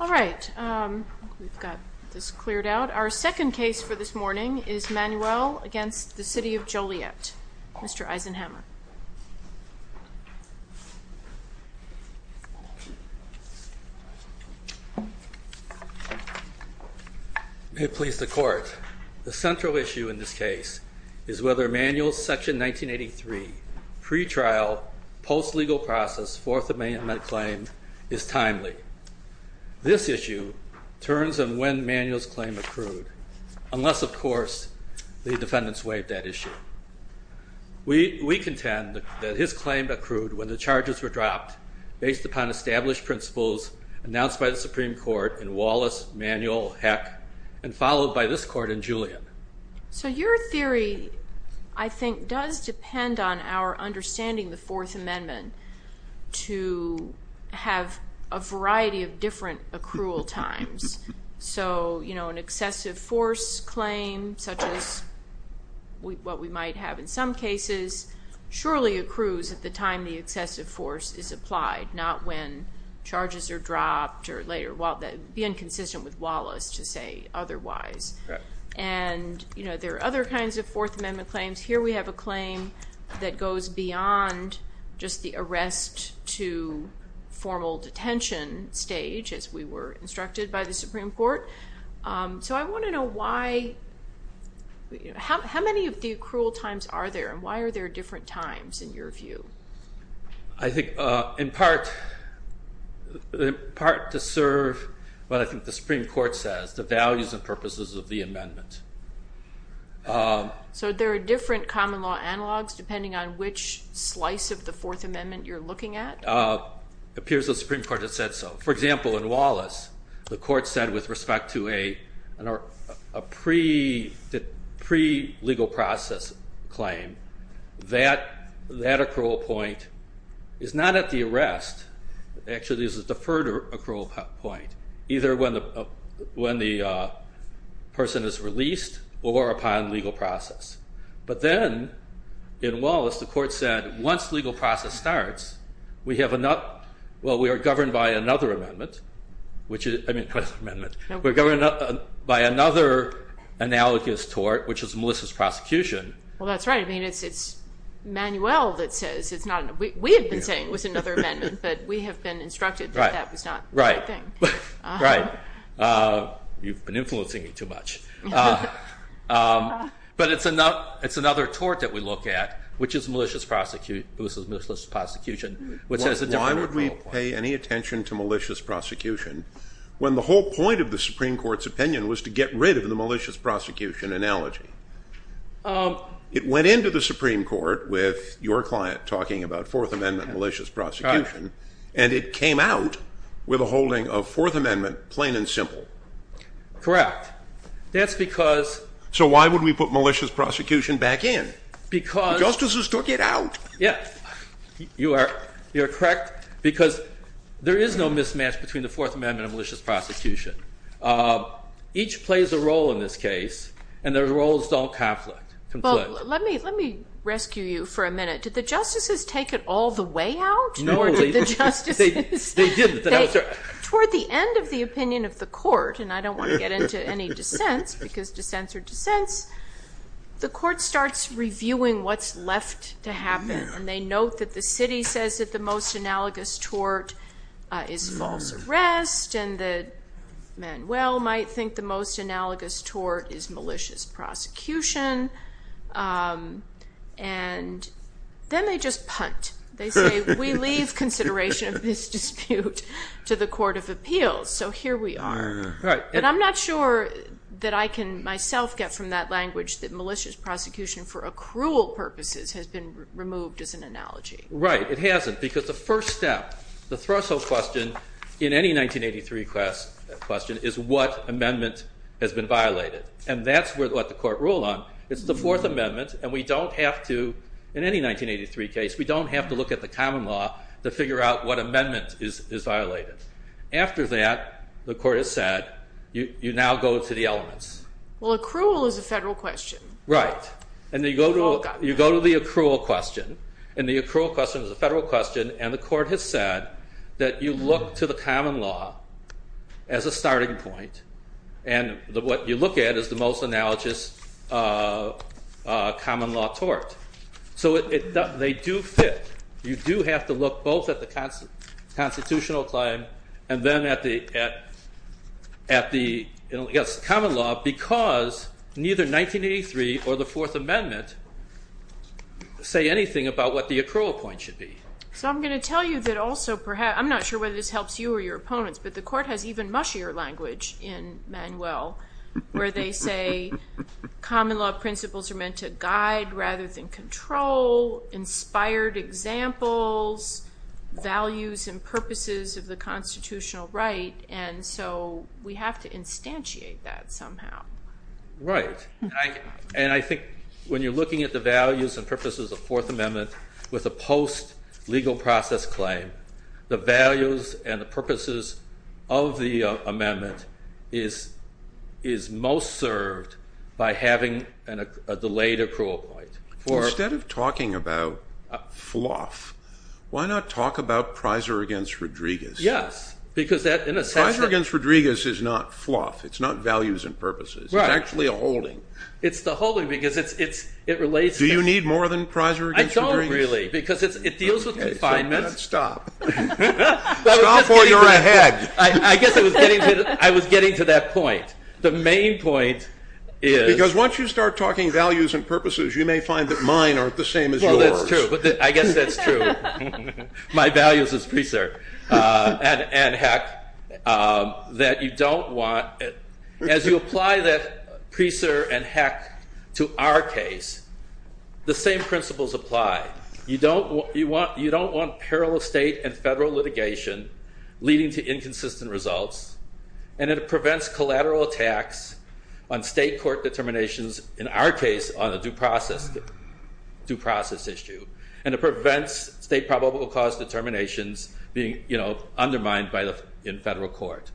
Alright, we've got this cleared out. Our second case for this morning is Manuel against the City of Joliet. Mr. Eisenhammer. May it please the court. The central issue in this case is whether Manuel's Section 1983 pretrial post-legal process Fourth Amendment claim is timely. This issue turns on when Manuel's claim accrued, unless of course the defendants waive that issue. We contend that his claim accrued when the charges were dropped based upon established principles announced by the Supreme Court in Wallace, Manuel, Heck, and followed by this court in Julian. So your theory, I think, does depend on our understanding of the Fourth Amendment to have a variety of different accrual times. So, you know, an excessive force claim, such as what we might have in some cases, surely accrues at the time the excessive force is applied, not when charges are dropped or later. It would be inconsistent with Wallace to say otherwise. And, you know, there are other kinds of Fourth Amendment claims. Here we have a claim that goes beyond just the arrest to formal detention stage, as we were instructed by the Supreme Court. So I want to know why, how many of the accrual times are there and why are there different times in your view? I think in part to serve what I think the Supreme Court says, the values and purposes of the amendment. So there are different common law analogs depending on which slice of the Fourth Amendment you're looking at? It appears the Supreme Court has said so. For example, in Wallace, the court said with respect to a pre-legal process claim, that accrual point is not at the arrest, actually it's a deferred accrual point, either when the person is released or upon legal process. But then in Wallace, the court said once legal process starts, we have enough, well, we are governed by another amendment, which is, I mean, we're governed by another analogous tort, which is Melissa's prosecution. Well, that's right. I mean, it's Manuel that says it's not, we have been saying it was another amendment, but we have been instructed that that was not the right thing. Right. You've been influencing me too much. But it's another tort that we look at, which is Melissa's prosecution, which has a deferred accrual point. Why would we pay any attention to malicious prosecution when the whole point of the Supreme Court's opinion was to get rid of the malicious prosecution analogy? It went into the Supreme Court with your client talking about Fourth Amendment malicious prosecution, and it came out with a holding of Fourth Amendment plain and simple. Correct. That's because... So why would we put malicious prosecution back in? Because... Justices took it out. Yeah, you are correct, because there is no mismatch between the Fourth Amendment and malicious prosecution. Each plays a role in this case, and their roles don't conflict. Well, let me rescue you for a minute. Did the justices take it all the way out? No, they didn't. Toward the end of the opinion of the court, and I don't want to get into any dissents, because dissents are dissents, the court starts reviewing what's left to happen. And they note that the city says that the most analogous tort is false arrest, and that Manuel might think the most analogous tort is malicious prosecution. And then they just punt. They say, we leave consideration of this dispute to the Court of Appeals, so here we are. But I'm not sure that I can myself get from that language that malicious prosecution for accrual purposes has been removed as an analogy. Right, it hasn't, because the first step, the threshold question in any 1983 question is what amendment has been violated. And that's what the court ruled on. It's the Fourth Amendment, and we don't have to, in any 1983 case, we don't have to look at the common law to figure out what amendment is violated. After that, the court has said, you now go to the elements. Well, accrual is a federal question. Right, and you go to the accrual question, and the accrual question is a federal question, and the court has said that you look to the common law as a starting point. And what you look at is the most analogous common law tort. So they do fit. You do have to look both at the constitutional claim and then at the common law, because neither 1983 or the Fourth Amendment say anything about what the accrual point should be. So I'm going to tell you that also perhaps, I'm not sure whether this helps you or your opponents, but the court has even mushier language in Manuel, where they say common law principles are meant to guide rather than control, inspired examples, values and purposes of the constitutional right. And so we have to instantiate that somehow. Right. And I think when you're looking at the values and purposes of the Fourth Amendment with a post-legal process claim, the values and the purposes of the amendment is most served by having a delayed accrual point. Instead of talking about fluff, why not talk about Priser against Rodriguez? Yes, because that in a sense- Priser against Rodriguez is not fluff. It's not values and purposes. Right. It's actually a holding. It's the holding, because it relates to- Do you need more than Priser against Rodriguez? I don't really, because it deals with confinements. Stop. Stop or you're ahead. I guess I was getting to that point. The main point is- Because once you start talking values and purposes, you may find that mine aren't the same as yours. Well, that's true. I guess that's true. My values is preserved. And, heck, that you don't want- As you apply that Priser and, heck, to our case, the same principles apply. You don't want parallel state and federal litigation leading to inconsistent results. And it prevents collateral attacks on state court determinations, in our case, on a due process issue. And it prevents state probable cause determinations being undermined in federal court.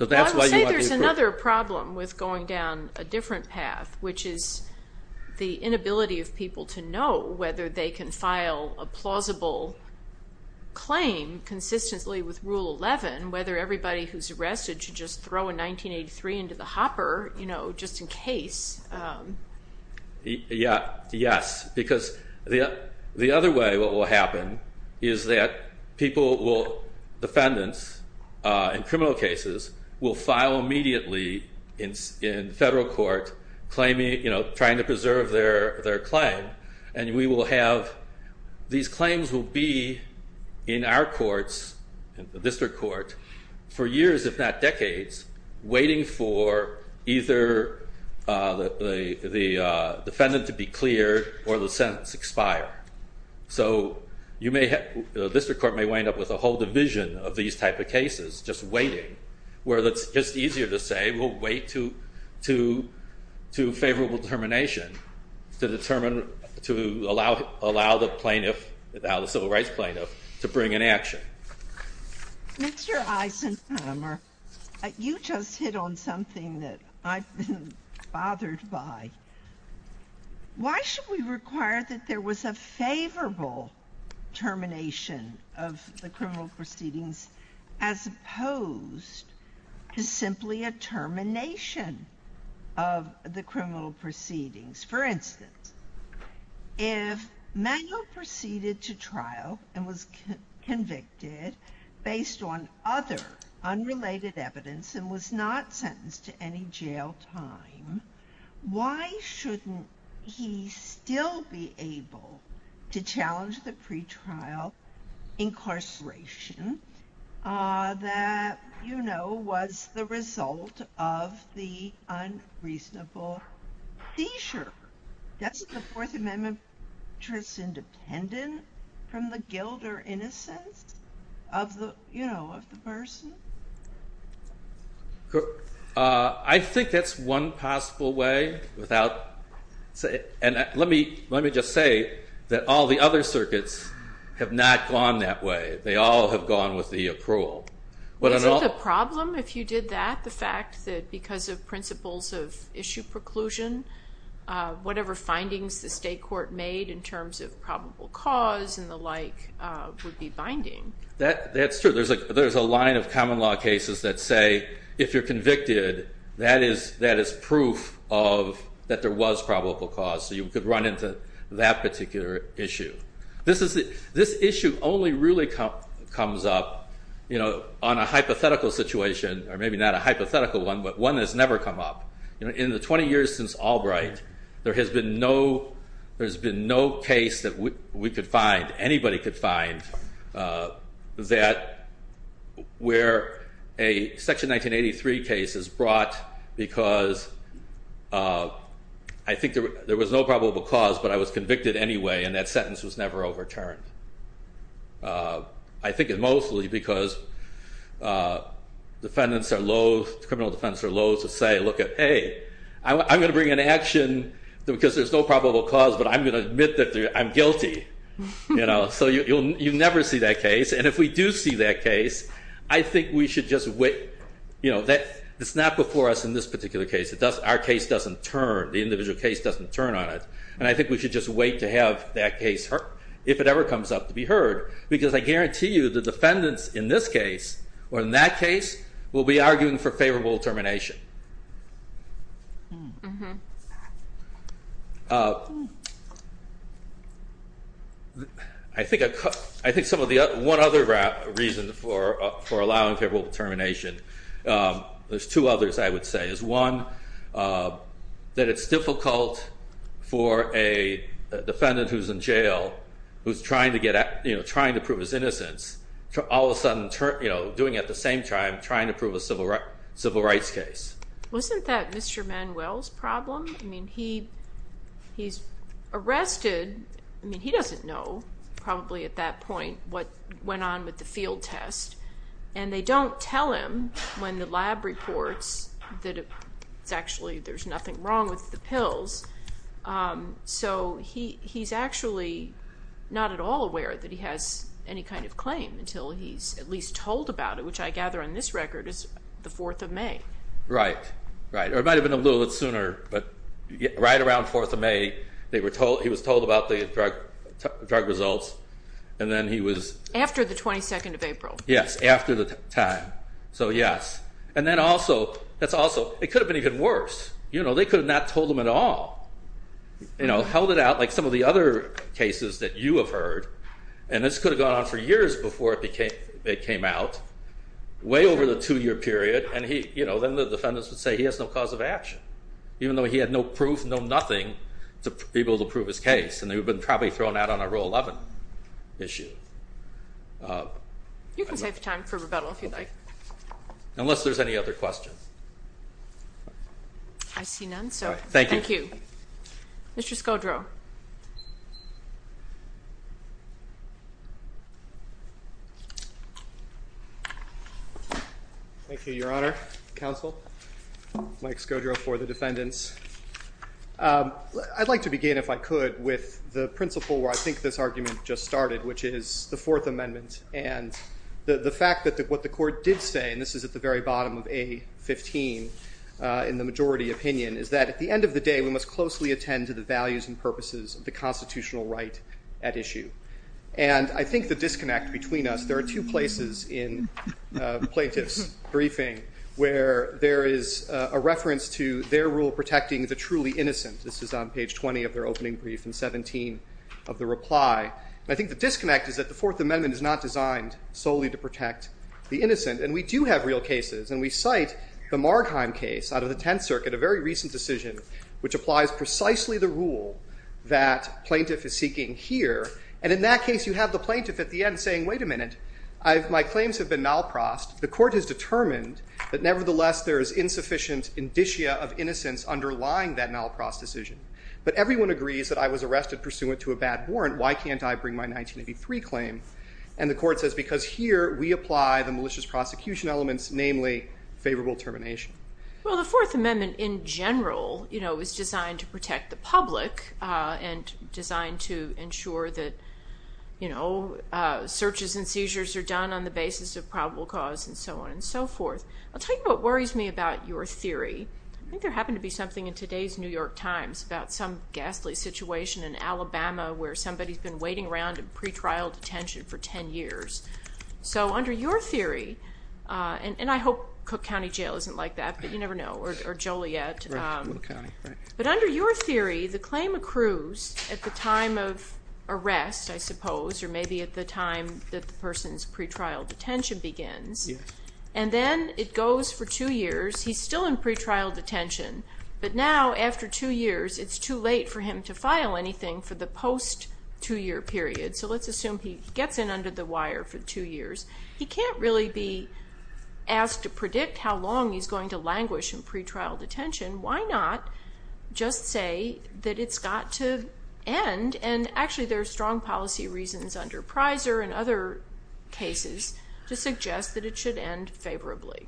I would say there's another problem with going down a different path, which is the inability of people to know whether they can file a plausible claim consistently with Rule 11, whether everybody who's arrested should just throw a 1983 into the hopper, just in case. Yes. Because the other way what will happen is that people will- Defendants in criminal cases will file immediately in federal court, trying to preserve their claim. And we will have- These claims will be in our courts, in the district court, for years, if not decades, waiting for either the defendant to be cleared or the sentence expire. So you may have- The district court may wind up with a whole division of these type of cases, just waiting, where it's just easier to say, we'll wait to favorable determination to allow the plaintiff, the civil rights plaintiff, to bring an action. Mr. Eisenheimer, you just hit on something that I've been bothered by. Why should we require that there was a favorable termination of the criminal proceedings as opposed to simply a termination of the criminal proceedings? For instance, if Manuel proceeded to trial and was convicted based on other unrelated evidence and was not sentenced to any jail time, why shouldn't he still be able to challenge the pretrial incarceration that, you know, was the result of the unreasonable seizure? Doesn't the Fourth Amendment make us independent from the guilt or innocence of the person? I think that's one possible way without- Let me just say that all the other circuits have not gone that way. They all have gone with the approval. Isn't the problem, if you did that, the fact that because of principles of issue preclusion, whatever findings the state court made in terms of probable cause and the like would be binding? That's true. There's a line of common law cases that say, if you're convicted, that is proof that there was probable cause, so you could run into that particular issue. This issue only really comes up on a hypothetical situation, or maybe not a hypothetical one, but one that's never come up. In the 20 years since Albright, there has been no case that we could find, anybody could find, where a Section 1983 case is brought because I think there was no probable cause, but I was convicted anyway, and that sentence was never overturned. I think it's mostly because defendants are loathe- criminal defendants are loathe to say, hey, I'm going to bring an action because there's no probable cause, but I'm going to admit that I'm guilty. So you never see that case, and if we do see that case, I think we should just wait. It's not before us in this particular case. Our case doesn't turn. The individual case doesn't turn on it. And I think we should just wait to have that case, if it ever comes up, to be heard, because I guarantee you the defendants in this case or in that case will be arguing for favorable determination. I think one other reason for allowing favorable determination, there's two others I would say. There's one that it's difficult for a defendant who's in jail, who's trying to prove his innocence, all of a sudden doing it at the same time, trying to prove a civil rights case. Wasn't that Mr. Manuel's problem? I mean, he's arrested. I mean, he doesn't know probably at that point what went on with the field test, and they don't tell him when the lab reports that actually there's nothing wrong with the pills. So he's actually not at all aware that he has any kind of claim until he's at least told about it, which I gather on this record is the 4th of May. Right, right. Or it might have been a little bit sooner, but right around 4th of May, he was told about the drug results, and then he was... Yes, after the time, so yes. And then also, it could have been even worse. They could have not told him at all. Held it out like some of the other cases that you have heard, and this could have gone on for years before it came out, way over the 2-year period, and then the defendants would say he has no cause of action, even though he had no proof, no nothing to be able to prove his case, and they would have been probably thrown out on a Rule 11 issue. You can save time for rebuttal if you'd like. Unless there's any other questions. I see none, so thank you. Thank you. Mr. Scodro. Thank you, Your Honor, Counsel, Mike Scodro for the defendants. I'd like to begin, if I could, with the principle where I think this argument just started, which is the Fourth Amendment and the fact that what the Court did say, and this is at the very bottom of A15 in the majority opinion, is that at the end of the day, we must closely attend to the values and purposes of the constitutional right at issue. And I think the disconnect between us, there are two places in plaintiff's briefing where there is a reference to their rule protecting the truly innocent. This is on page 20 of their opening brief and 17 of the reply. And I think the disconnect is that the Fourth Amendment is not designed solely to protect the innocent. And we do have real cases, and we cite the Margheim case out of the Tenth Circuit, a very recent decision which applies precisely the rule that plaintiff is seeking here. And in that case, you have the plaintiff at the end saying, wait a minute, my claims have been nalprost. The Court has determined that nevertheless there is insufficient indicia of innocence underlying that nalprost decision. But everyone agrees that I was arrested pursuant to a bad warrant. Why can't I bring my 1983 claim? And the Court says because here we apply the malicious prosecution elements, namely favorable termination. Well, the Fourth Amendment in general is designed to protect the public and designed to ensure that, you know, searches and seizures are done on the basis of probable cause and so on and so forth. I'll tell you what worries me about your theory. I think there happened to be something in today's New York Times about some ghastly situation in Alabama where somebody's been waiting around in pretrial detention for 10 years. So under your theory, and I hope Cook County Jail isn't like that, but you never know, or Joliet. But under your theory, the claim accrues at the time of arrest, I suppose, or maybe at the time that the person's pretrial detention begins. Yes. And then it goes for two years. He's still in pretrial detention. But now after two years, it's too late for him to file anything for the post-two-year period. So let's assume he gets in under the wire for two years. He can't really be asked to predict how long he's going to languish in pretrial detention. Why not just say that it's got to end? And actually, there are strong policy reasons under Prizer and other cases to suggest that it should end favorably.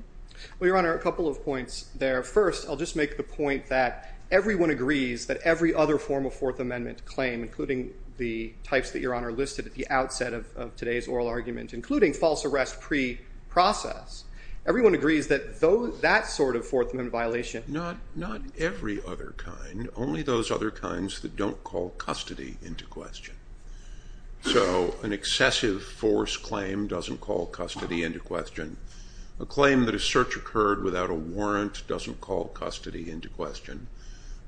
Well, Your Honor, a couple of points there. First, I'll just make the point that everyone agrees that every other form of Fourth Amendment claim, including the types that Your Honor listed at the outset of today's oral argument, including false arrest pre-process, everyone agrees that that sort of Fourth Amendment violation. Not every other kind, only those other kinds that don't call custody into question. So an excessive force claim doesn't call custody into question. A claim that a search occurred without a warrant doesn't call custody into question.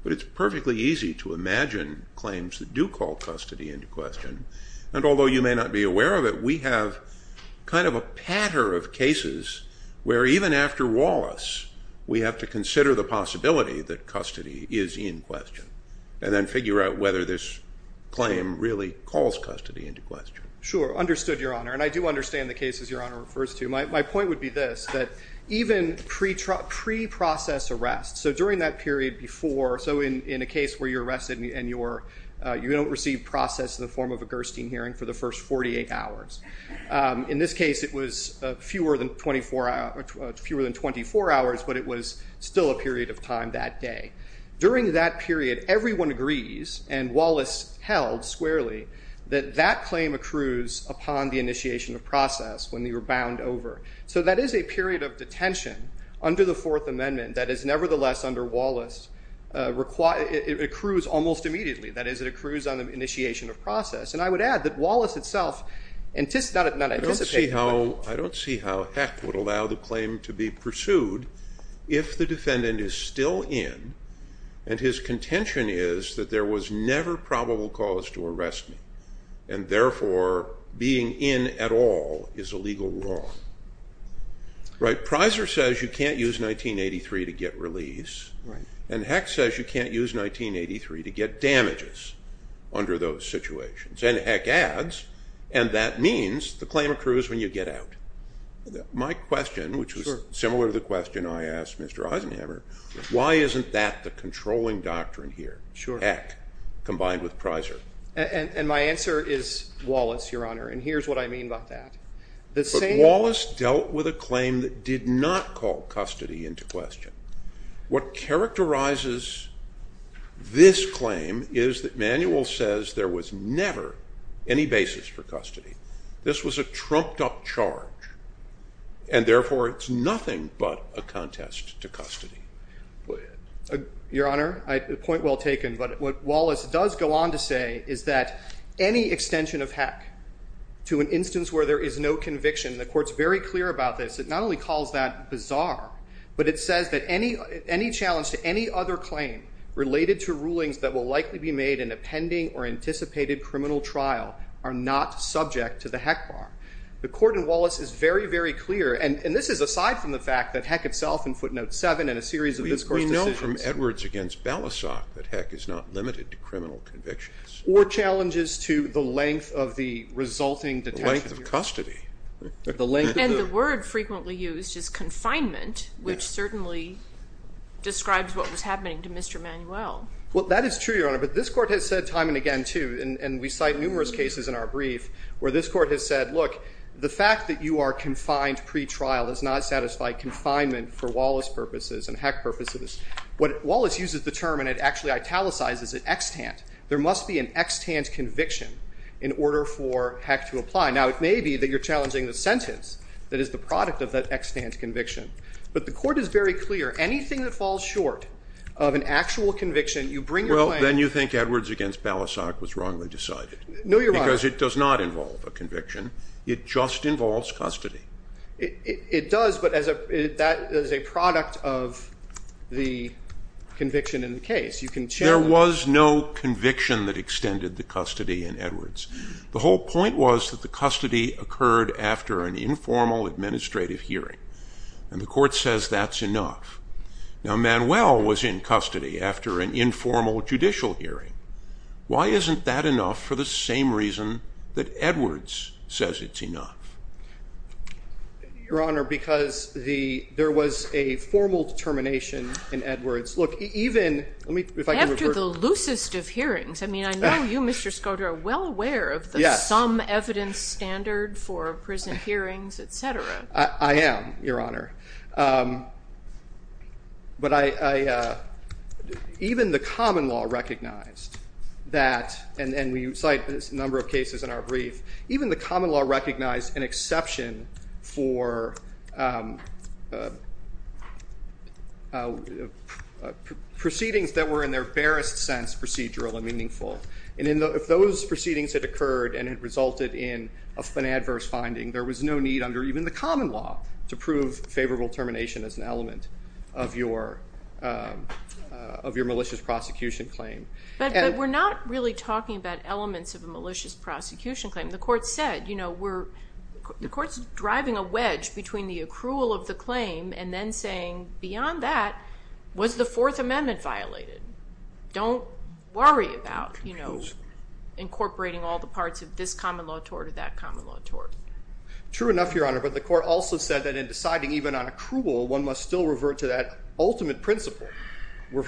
But it's perfectly easy to imagine claims that do call custody into question. And although you may not be aware of it, we have kind of a patter of cases where even after Wallace, we have to consider the possibility that custody is in question and then figure out whether this claim really calls custody into question. Sure, understood, Your Honor. And I do understand the cases Your Honor refers to. My point would be this, that even pre-process arrests, so during that period before, so in a case where you're arrested and you don't receive process in the form of a Gerstein hearing for the first 48 hours. In this case, it was fewer than 24 hours, but it was still a period of time that day. During that period, everyone agrees, and Wallace held squarely, that that claim accrues upon the initiation of process when you're bound over. So that is a period of detention under the Fourth Amendment that is nevertheless under Wallace. It accrues almost immediately. That is, it accrues on the initiation of process. And I would add that Wallace itself anticipated, not anticipated. I don't see how Heck would allow the claim to be pursued if the defendant is still in, and his contention is that there was never probable cause to arrest me, and therefore being in at all is a legal wrong. Right? Prizer says you can't use 1983 to get release, and Heck says you can't use 1983 to get damages under those situations. And Heck adds, and that means the claim accrues when you get out. My question, which was similar to the question I asked Mr. Eisenhammer, why isn't that the controlling doctrine here? Heck, combined with Prizer. And my answer is Wallace, Your Honor, and here's what I mean by that. But Wallace dealt with a claim that did not call custody into question. What characterizes this claim is that Manuel says there was never any basis for custody. This was a trumped-up charge, and therefore it's nothing but a contest to custody. Go ahead. Your Honor, a point well taken. But what Wallace does go on to say is that any extension of Heck to an instance where there is no conviction, the Court's very clear about this. It not only calls that bizarre, but it says that any challenge to any other claim related to rulings that will likely be made in a pending or anticipated criminal trial are not subject to the Heck bar. The Court in Wallace is very, very clear, and this is aside from the fact that Heck itself in footnote 7 in a series of this Court's decisions. We know from Edwards against Balasag that Heck is not limited to criminal convictions. Or challenges to the length of the resulting detention period. The length of custody. And the word frequently used is confinement, which certainly describes what was happening to Mr. Manuel. Well, that is true, Your Honor. But this Court has said time and again, too, and we cite numerous cases in our brief where this Court has said, look, the fact that you are confined pretrial does not satisfy confinement for Wallace purposes and Heck purposes. Wallace uses the term, and it actually italicizes it, extant. There must be an extant conviction in order for Heck to apply. Now, it may be that you're challenging the sentence that is the product of that extant conviction. But the Court is very clear. Anything that falls short of an actual conviction, you bring your claim. Well, then you think Edwards against Balasag was wrongly decided. No, Your Honor. Because it does not involve a conviction. It just involves custody. It does, but that is a product of the conviction in the case. You can challenge it. There was no conviction that extended the custody in Edwards. The whole point was that the custody occurred after an informal administrative hearing. And the Court says that's enough. Now, Manuel was in custody after an informal judicial hearing. Why isn't that enough for the same reason that Edwards says it's enough? Your Honor, because there was a formal determination in Edwards. Look, even if I can revert. After the loosest of hearings. I mean, I know you, Mr. Skoda, are well aware of the some evidence standard for prison hearings, et cetera. I am, Your Honor. But even the common law recognized that, and we cite this number of cases in our brief, even the common law recognized an exception for proceedings that were, in their barest sense, procedural and meaningful. And if those proceedings had occurred and it resulted in an adverse finding, there was no need under even the common law to prove favorable termination as an element of your malicious prosecution claim. But we're not really talking about elements of a malicious prosecution claim. The Court said, you know, the Court's driving a wedge between the accrual of the claim and then saying, beyond that, was the Fourth Amendment violated? Don't worry about incorporating all the parts of this common law tort True enough, Your Honor. But the Court also said that in deciding even on accrual, one must still revert to that ultimate principle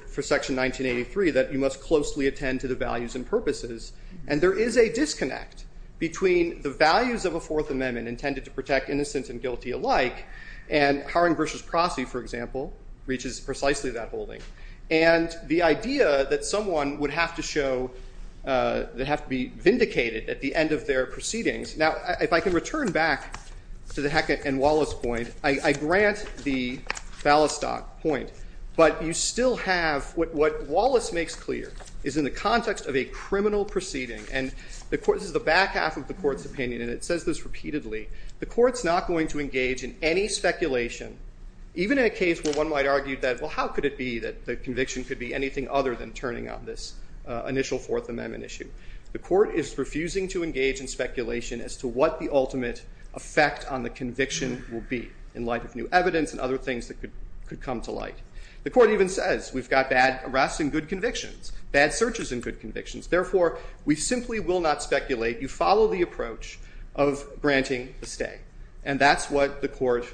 for Section 1983, that you must closely attend to the values and purposes. And there is a disconnect between the values of a Fourth Amendment, intended to protect innocents and guilty alike, and Haring v. Prosse, for example, reaches precisely that holding. And the idea that someone would have to show, they have to be vindicated at the end of their proceedings. Now, if I can return back to the Hecate and Wallace point, I grant the Fallistock point, but you still have, what Wallace makes clear is in the context of a criminal proceeding, and this is the back half of the Court's opinion, and it says this repeatedly, the Court's not going to engage in any speculation, even in a case where one might argue that, well, how could it be that the conviction could be anything other than turning on this initial Fourth Amendment issue. The Court is refusing to engage in speculation as to what the ultimate effect on the conviction will be in light of new evidence and other things that could come to light. The Court even says, we've got bad arrests and good convictions, bad searches and good convictions. Therefore, we simply will not speculate. You follow the approach of granting a stay. And that's what the Court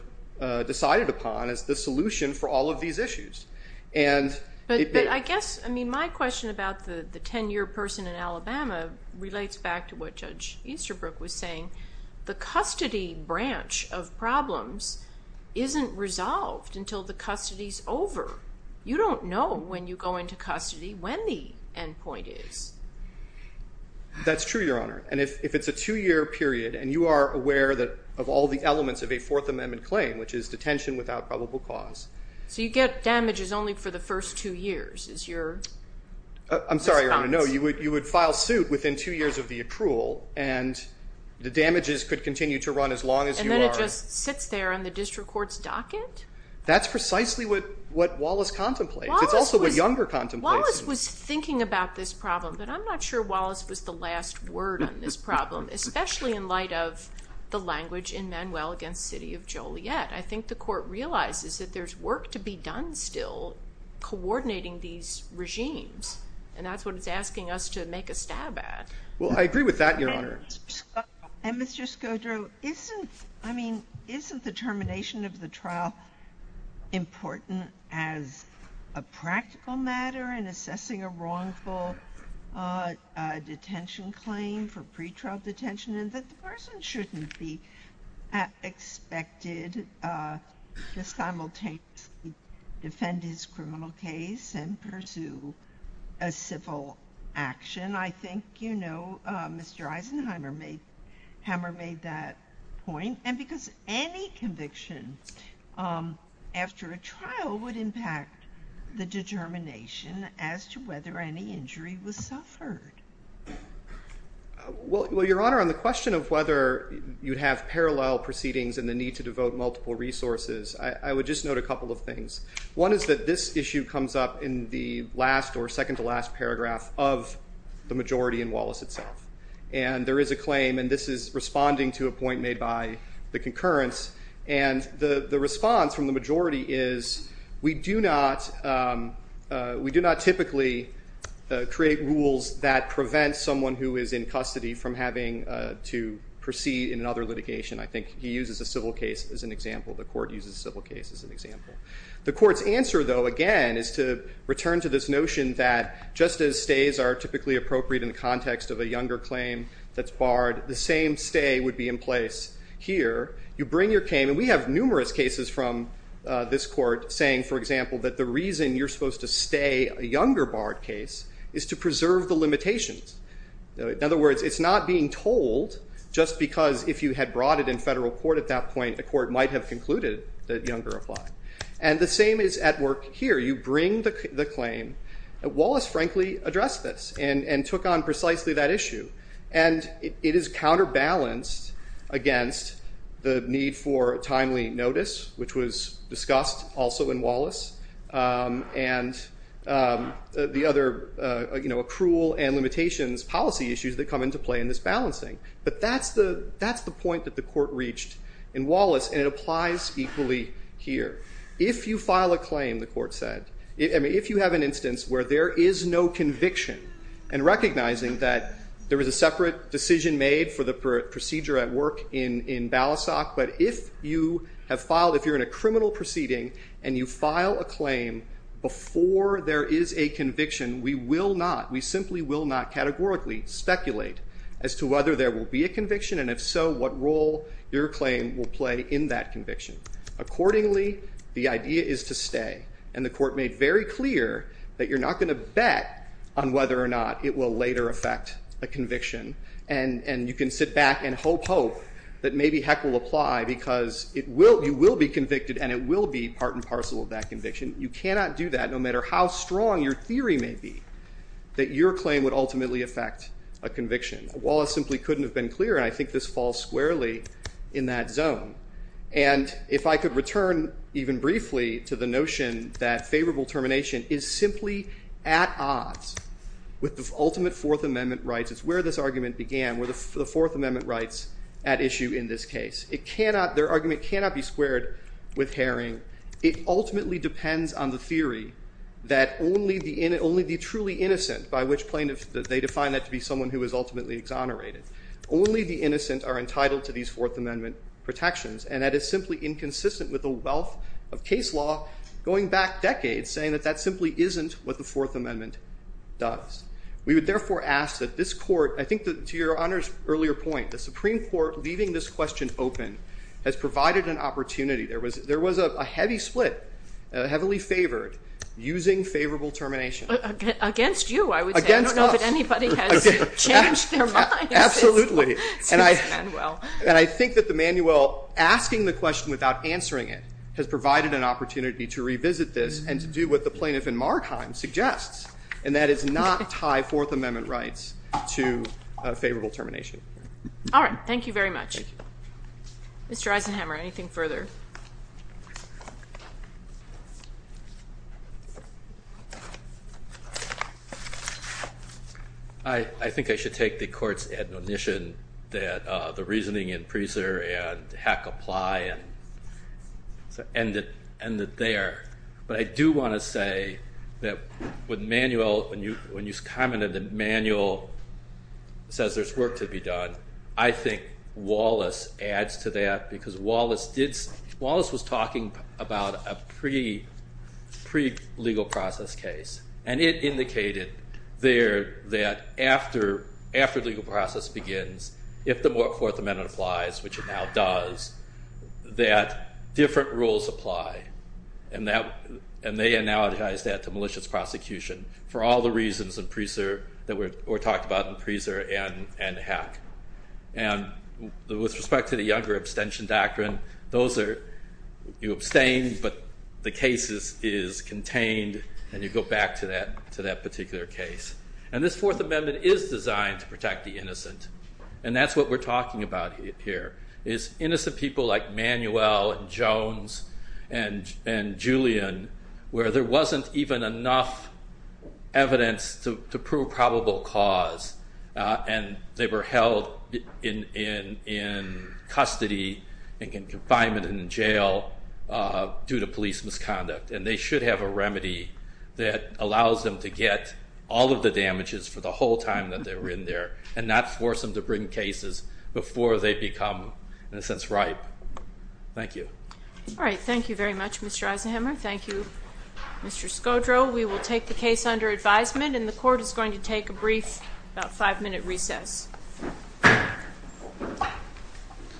decided upon as the solution for all of these issues. But I guess, I mean, my question about the 10-year person in Alabama relates back to what Judge Easterbrook was saying. The custody branch of problems isn't resolved until the custody's over. You don't know when you go into custody when the end point is. That's true, Your Honor. And if it's a two-year period, and you are aware of all the elements of a Fourth Amendment claim, which is detention without probable cause. So you get damages only for the first two years, is your response? I'm sorry, Your Honor. No, you would file suit within two years of the accrual, and the damages could continue to run as long as you are... And then it just sits there on the district court's docket? That's precisely what Wallace contemplates. It's also what Younger contemplates. Wallace was thinking about this problem, but I'm not sure Wallace was the last word on this problem, especially in light of the language in Manuel against City of Joliet. I think the court realizes that there's work to be done still coordinating these regimes, and that's what it's asking us to make a stab at. Well, I agree with that, Your Honor. And Mr. Scodro, isn't the termination of the trial important as a practical matter in assessing a wrongful detention claim for pretrial detention, and that the person shouldn't be expected to simultaneously defend his criminal case and pursue a civil action? I think Mr. Eisenheimer made that point. And because any conviction after a trial would impact the determination as to whether any injury was suffered. Well, Your Honor, on the question of whether you'd have parallel proceedings and the need to devote multiple resources, I would just note a couple of things. One is that this issue comes up in the last or second-to-last paragraph of the majority in Wallace itself. And there is a claim, and this is responding to a point made by the concurrence, and the response from the majority is, we do not typically create rules that prevent someone who is in custody from having to proceed in another litigation. I think he uses a civil case as an example. The Court uses a civil case as an example. The Court's answer, though, again, is to return to this notion that just as stays are typically appropriate in the context of a younger claim that's barred, the same stay would be in place here. You bring your claim, and we have numerous cases from this Court saying, for example, that the reason you're supposed to stay a younger barred case is to preserve the limitations. In other words, it's not being told just because if you had brought it in federal court at that point, the Court might have concluded that younger applied. And the same is at work here. You bring the claim. Wallace, frankly, addressed this and took on precisely that issue. And it is counterbalanced against the need for timely notice, which was discussed also in Wallace, and the other accrual and limitations policy issues that come into play in this balancing. But that's the point that the Court reached in Wallace, and it applies equally here. If you file a claim, the Court said, if you have an instance where there is no conviction and recognizing that there is a separate decision made for the procedure at work in Balasag, but if you have filed, if you're in a criminal proceeding, and you file a claim before there is a conviction, we will not, we simply will not categorically speculate as to whether there will be a conviction, and if so, what role your claim will play in that conviction. Accordingly, the idea is to stay. And the Court made very clear that you're not going to bet on whether or not it will later affect a conviction. And you can sit back and hope, hope that maybe heck will apply, because you will be convicted, and it will be part and parcel of that conviction. You cannot do that, no matter how strong your theory may be, that your claim would ultimately affect a conviction. Wallace simply couldn't have been clearer, and I think this falls squarely in that zone. And if I could return even briefly to the notion that favorable termination is simply at odds with the ultimate Fourth Amendment rights, it's where this argument began, where the Fourth Amendment rights at issue in this case. It cannot, their argument cannot be squared with Herring. It ultimately depends on the theory that only the truly innocent, by which plaintiffs, they define that to be someone who is ultimately exonerated, only the innocent are entitled to these Fourth Amendment protections. And that is simply inconsistent with the wealth of case law going back decades, saying that that simply isn't what the Fourth Amendment does. We would therefore ask that this Court, I think to Your Honor's earlier point, the Supreme Court leaving this question open has provided an opportunity. There was a heavy split, heavily favored, using favorable termination. Against you, I would say. Against us. I don't know if anybody has changed their minds. Absolutely. Excuse Manuel. And I think that the Manuel asking the question without answering it has provided an opportunity to revisit this and to do what the plaintiff in Markheim suggests, and that is not tie Fourth Amendment rights to favorable termination. All right. Thank you very much. Thank you. Mr. Eisenhammer, anything further? I think I should take the Court's admonition that the reasoning in Prieser and Heck apply and end it there. But I do want to say that with Manuel, when you commented that Manuel says there's work to be done, I think Wallace adds to that because Wallace was talking about a pre-legal process case, and it indicated there that after legal process begins, if the Fourth Amendment applies, which it now does, that different rules apply, and they analogize that to malicious prosecution for all the reasons that were talked about in Prieser and Heck. And with respect to the younger abstention doctrine, you abstain, but the case is contained, and you go back to that particular case. And this Fourth Amendment is designed to protect the innocent, and that's what we're talking about here, is innocent people like Manuel and Jones and Julian, where there wasn't even enough evidence to prove probable cause, and they were held in custody and in confinement and in jail due to police misconduct. And they should have a remedy that allows them to get all of the damages for the whole time that they were in there and not force them to bring cases before they become, in a sense, ripe. Thank you. All right, thank you very much, Mr. Eisenhamer. Thank you, Mr. Scodro. We will take the case under advisement, and the court is going to take a brief about five-minute recess.